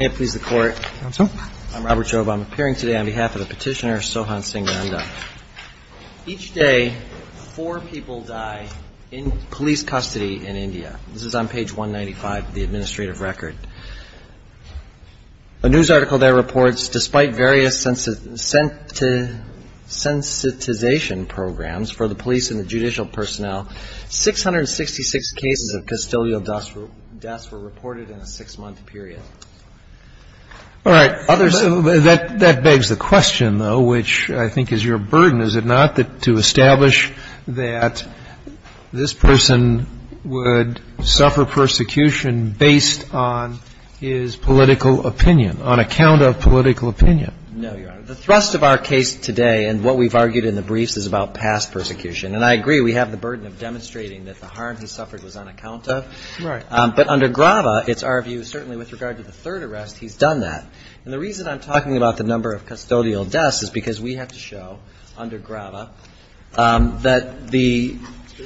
Robert Jobe I'm appearing today on behalf of the petitioner Sohan Singh Nandha. Each day, four people die in police custody in India. This is on page 195 of the administrative record. A news article there reports, despite various sensitization programs for the police and the judicial personnel, 666 cases of custodial deaths were reported in a six-month period. Roberts. That begs the question, though, which I think is your burden, is it not, to establish that this person would suffer persecution based on his political opinion, on account of political opinion? No, Your Honor. The thrust of our case today and what we've argued in the briefs is about past persecution. And I agree we have the burden of demonstrating that the harm he suffered was on account of. Right. But under Grava, it's our view, certainly with regard to the third arrest, he's done that. And the reason I'm talking about the number of custodial deaths is because we have to show, under Grava, that the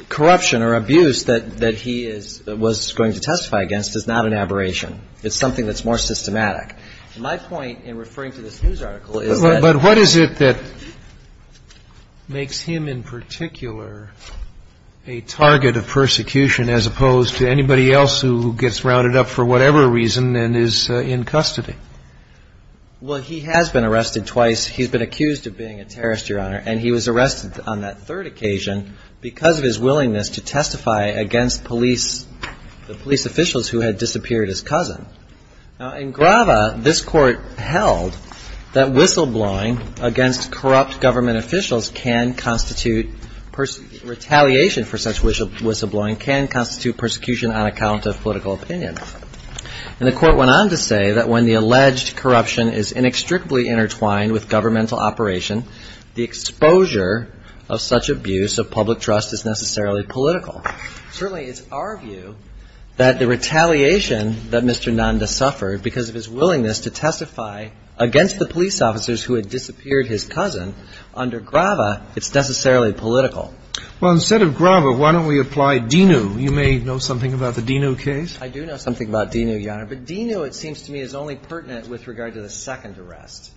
corruption or abuse that he was going to testify against is not an aberration. It's something that's more systematic. My point in referring to this news article is that. But what is it that makes him in particular a target of persecution as opposed to anybody else who gets rounded up for whatever reason and is in custody? Well, he has been arrested twice. He's been accused of being a terrorist, Your Honor. And he was arrested on that third occasion because of his willingness to testify against police, the police officials who had disappeared his cousin. Now, in Grava, this Court held that whistleblowing against corrupt government officials can constitute retaliation for such whistleblowing can constitute persecution on account of political opinion. And the Court went on to say that when the alleged corruption is inextricably intertwined with governmental operation, the exposure of such abuse of public trust is necessarily political. Certainly, it's our view that the retaliation that Mr. Nanda suffered because of his willingness to testify against the police officers who had disappeared his cousin, under Grava, it's necessarily political. Well, instead of Grava, why don't we apply DENU? You may know something about the DENU case. I do know something about DENU, Your Honor. But DENU, it seems to me, is only pertinent with regard to the second arrest.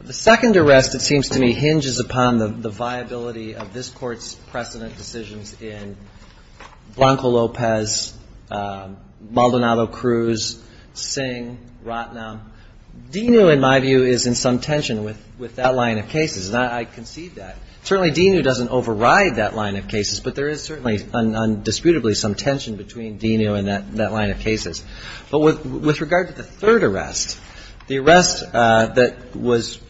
The second arrest, it seems to me, hinges upon the viability of this Court's precedent decisions in Blanco-Lopez, Maldonado-Cruz, Singh, Rotnam. DENU, in my view, is in some tension with that line of cases, and I concede that. Certainly, DENU doesn't override that line of cases, but there is certainly, indisputably, some tension between DENU and that line of cases. But with regard to the third arrest, the arrest that was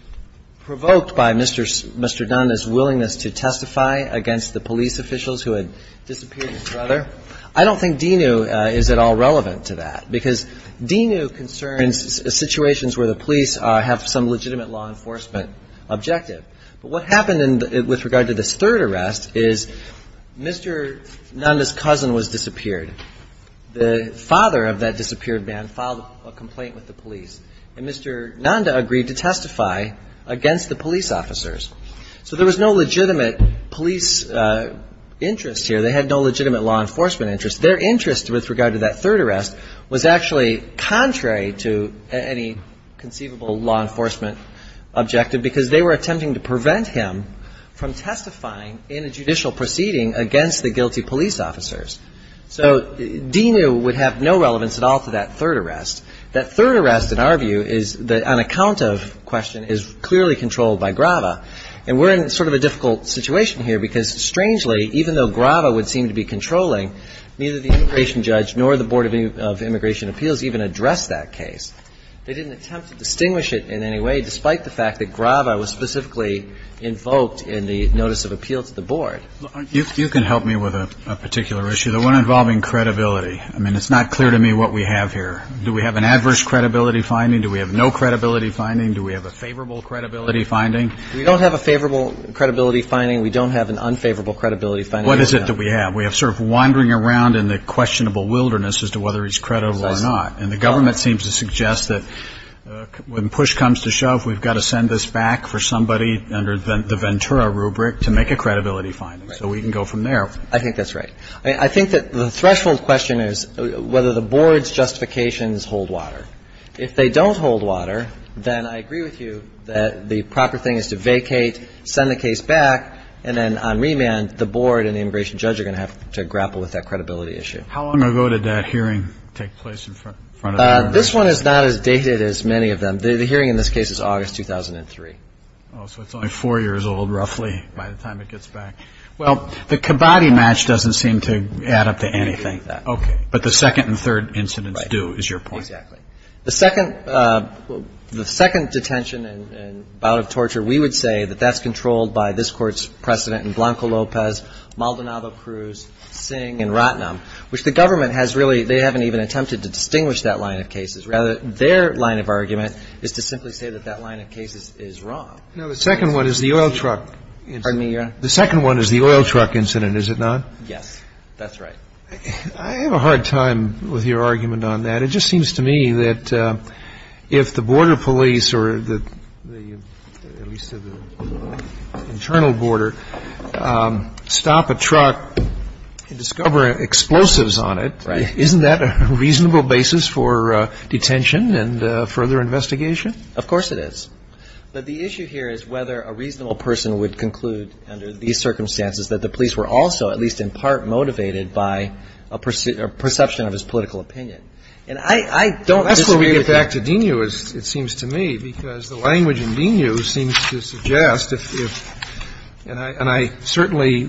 provoked by Mr. Nanda's willingness to testify against the police officials who had disappeared his brother, I don't think DENU is at all relevant to that, because DENU concerns situations where the police have some legitimate law enforcement objective. But what happened with regard to this third arrest is Mr. Nanda's cousin was disappeared. The father of that disappeared man filed a complaint with the police, and Mr. Nanda agreed to testify against the police officers. So there was no legitimate police interest here. They had no legitimate law enforcement interest. Their interest with regard to that third arrest was actually contrary to any conceivable law enforcement objective, because they were attempting to prevent him from testifying in a judicial proceeding against the guilty police officers. So DENU would have no relevance at all to that third arrest. That third arrest, in our view, is that on account of question, is clearly controlled by Grava. And we're in sort of a difficult situation here, because strangely, even though Grava would seem to be controlling, neither the immigration judge nor the Board of Immigration Appeals even addressed that case. They didn't attempt to distinguish it in any way, despite the fact that Grava was specifically invoked in the notice of appeal to the Board. You can help me with a particular issue, the one involving credibility. I mean, it's not clear to me what we have here. Do we have an adverse credibility finding? Do we have no credibility finding? Do we have a favorable credibility finding? We don't have a favorable credibility finding. We don't have an unfavorable credibility finding. What is it that we have? We have sort of wandering around in the questionable wilderness as to whether he's credible or not. And the government seems to suggest that when push comes to shove, we've got to send this back for somebody under the Ventura rubric to make a credibility finding. So we can go from there. I think that's right. I mean, I think that the threshold question is whether the board's justifications hold water. If they don't hold water, then I agree with you that the proper thing is to vacate, send the case back, and then on remand, the board and the immigration judge are going to have to grapple with that credibility issue. How long ago did that hearing take place in front of the Congress? This one is not as dated as many of them. The hearing in this case is August 2003. Oh, so it's only four years old, roughly, by the time it gets back. Well, the Cabotti match doesn't seem to add up to anything. Okay. But the second and third incidents do is your point. Exactly. The second detention and bout of torture, we would say that that's controlled by this Court's precedent in Blanco-Lopez, Maldonado-Cruz, Singh, and Rotnam, which the government has really they haven't even attempted to distinguish that line of cases. Rather, their line of argument is to simply say that that line of cases is wrong. Now, the second one is the oil truck incident. Pardon me, Your Honor. The second one is the oil truck incident, is it not? Yes. That's right. I have a hard time with your argument on that. It just seems to me that if the border police or the at least the internal border stop a truck and discover explosives on it, isn't that a reasonable basis for detention and further investigation? Of course it is. But the issue here is whether a reasonable person would conclude under these circumstances that the police were also at least in part motivated by a perception of his political opinion. And I don't disagree with that. That's where we get back to Dinew, it seems to me, because the language in Dinew seems to suggest if and I certainly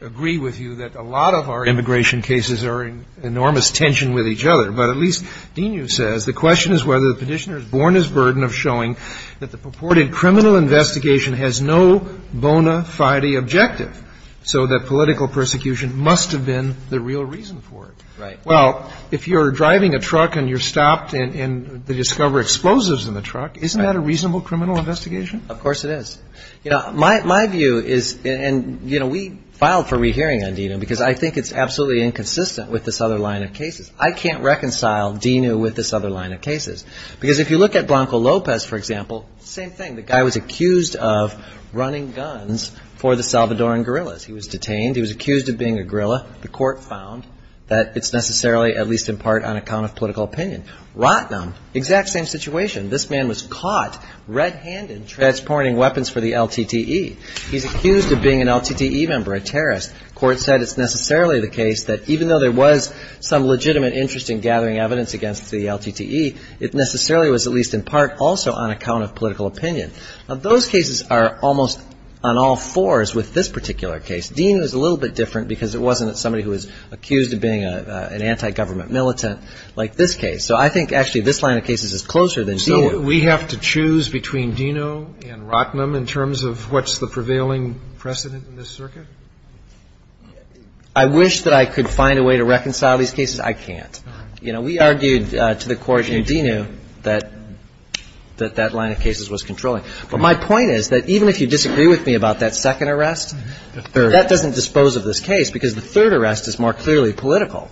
agree with you that a lot of our immigration cases are in enormous tension with each other. But at least Dinew says the question is whether the Petitioner is born as burden of showing that the purported criminal investigation has no bona fide objective, so that political persecution must have been the real reason for it. Right. Well, if you're driving a truck and you're stopped and they discover explosives in the truck, isn't that a reasonable criminal investigation? Of course it is. You know, my view is and, you know, we filed for rehearing on Dinew because I think it's absolutely inconsistent with this other line of cases. I can't reconcile Dinew with this other line of cases. Because if you look at Blanco Lopez, for example, same thing. The guy was accused of running guns for the Salvadoran guerrillas. He was detained. He was accused of being a guerrilla. The court found that it's necessarily at least in part on account of political opinion. Rotnam, exact same situation. This man was caught red-handed transporting weapons for the LTTE. He's accused of being an LTTE member, a terrorist. Court said it's necessarily the case that even though there was some legitimate interest in gathering evidence against the LTTE, it necessarily was at least in part also on account of political opinion. Now, those cases are almost on all fours with this particular case. Dinew is a little bit different because it wasn't somebody who was accused of being an anti-government militant like this case. So I think actually this line of cases is closer than Dinew. So we have to choose between Dinew and Rotnam in terms of what's the prevailing precedent in this circuit? I wish that I could find a way to reconcile these cases. I can't. You know, we argued to the court in Dinew that that line of cases was controlling. But my point is that even if you disagree with me about that second arrest, that doesn't dispose of this case because the third arrest is more clearly political.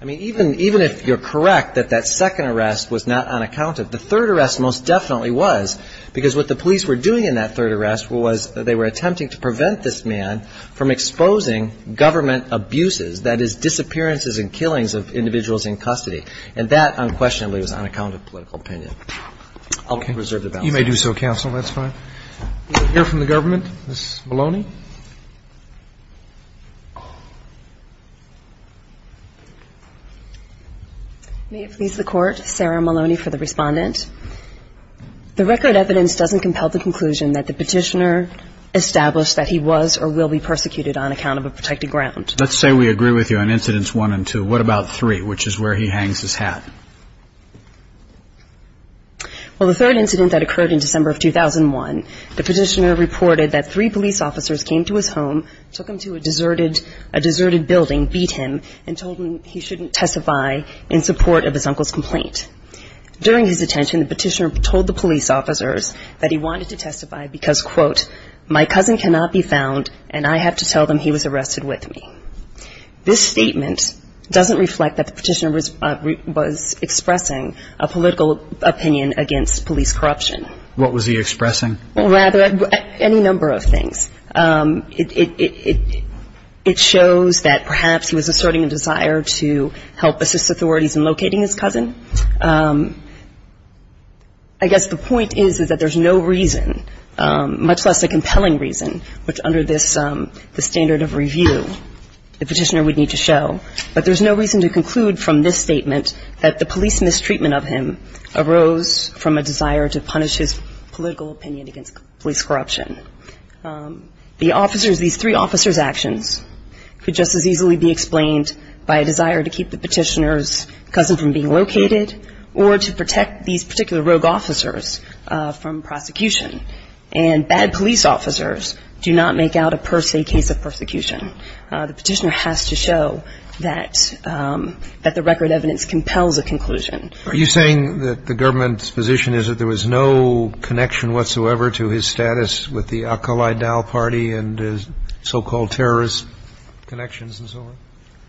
I mean, even if you're correct that that second arrest was not unaccounted, the third arrest most definitely was because what the police were doing in that third arrest was that they were attempting to prevent this man from exposing government abuses, that is, disappearances and killings of individuals in custody. And that, unquestionably, was on account of political opinion. I'll reserve the balance. You may do so, counsel. That's fine. We'll hear from the government. Ms. Maloney. May it please the Court, Sarah Maloney for the Respondent. The record evidence doesn't compel the conclusion that the petitioner established that he was or will be persecuted on account of a protected ground. Let's say we agree with you on incidents one and two. What about three, which is where he hangs his hat? Well, the third incident that occurred in December of 2001, the petitioner reported that three police officers came to his home, took him to a deserted building, beat him and told him he shouldn't testify in support of his uncle's complaint. During his detention, the petitioner told the police officers that he wanted to testify because, quote, my cousin cannot be found and I have to tell them he was arrested with me. This statement doesn't reflect that the petitioner was expressing a political opinion against police corruption. What was he expressing? Well, rather any number of things. It shows that perhaps he was asserting a desire to help assist authorities in locating his cousin. I guess the point is that there's no reason, much less a compelling reason, which under this standard of review the petitioner would need to show. But there's no reason to conclude from this statement that the police mistreatment of him arose from a desire to punish his political opinion against police corruption. The officers, these three officers' actions could just as easily be explained by a desire to keep the petitioner's cousin from being located or to protect these particular rogue officers from prosecution. And bad police officers do not make out a per se case of persecution. The petitioner has to show that the record evidence compels a conclusion. Are you saying that the government's position is that there was no connection whatsoever to his status with the Al-Qaeda party and his so-called terrorist connections and so on?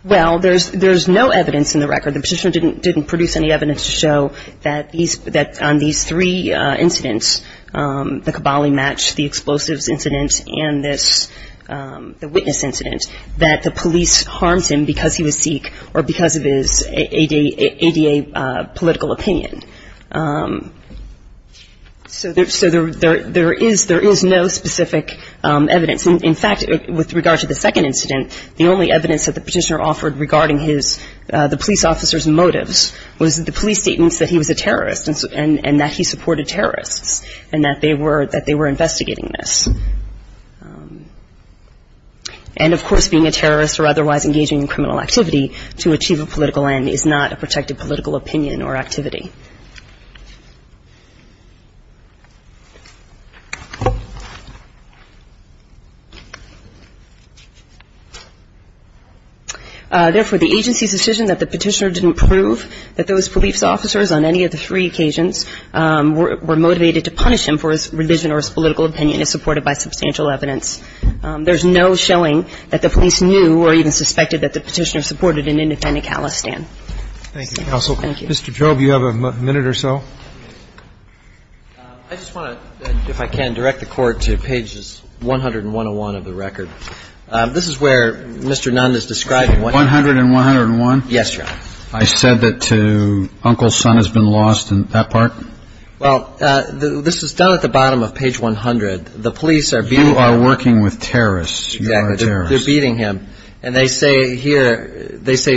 Well, there's no evidence in the record. The petitioner didn't produce any evidence to show that on these three incidents, the Kabbali match, the explosives incident, and this, the witness incident, that the police harmed him because he was Sikh or because of his ADA political opinion. So there is no specific evidence. In fact, with regard to the second incident, the only evidence that the petitioner offered regarding his, the police officer's motives was the police statements that he was a terrorist and that he supported terrorists and that they were investigating this. And, of course, being a terrorist or otherwise engaging in criminal activity to achieve a political end is not a protected political opinion or activity. Therefore, the agency's decision that the petitioner didn't prove that those police officers on any of the three occasions were motivated to punish him for his religion or his political opinion is supported by substantial evidence. There's no showing that the police knew or even suspected that the petitioner supported an independent Khalistan. Thank you, counsel. Thank you. Do we have a minute or so? I just want to, if I can, direct the court to pages 100 and 101 of the record. This is where Mr. Nunn is describing what- 100 and 101? Yes, Your Honor. I said that to uncle's son has been lost in that part? Well, this is done at the bottom of page 100. The police are- You are working with terrorists. Exactly. You are a terrorist. They're beating him. And they say here, they say,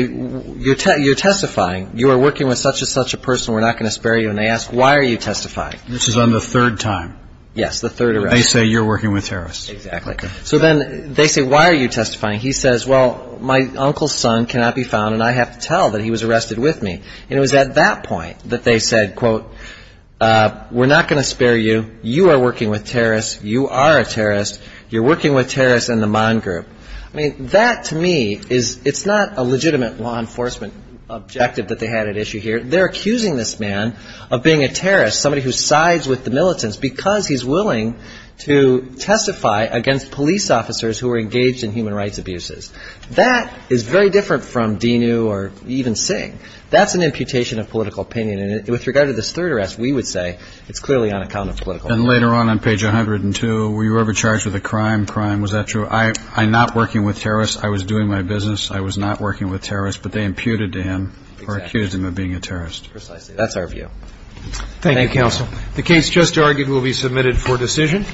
you're testifying. You are working with such and such a person. We're not going to spare you. And they ask, why are you testifying? This is on the third time. Yes, the third arrest. They say you're working with terrorists. Exactly. So then they say, why are you testifying? He says, well, my uncle's son cannot be found, and I have to tell that he was arrested with me. And it was at that point that they said, quote, we're not going to spare you. You are working with terrorists. You are a terrorist. You're working with terrorists in the Mann Group. I mean, that, to me, it's not a legitimate law enforcement objective that they had at issue here. They're accusing this man of being a terrorist, somebody who sides with the militants, because he's willing to testify against police officers who are engaged in human rights abuses. That is very different from Dinu or even Singh. That's an imputation of political opinion. And with regard to this third arrest, we would say it's clearly on account of political opinion. And later on, on page 102, were you ever charged with a crime? Crime, was that true? I'm not working with terrorists. I was doing my business. I was not working with terrorists. But they imputed to him or accused him of being a terrorist. Precisely. That's our view. Thank you, counsel. The case just argued will be submitted for decision.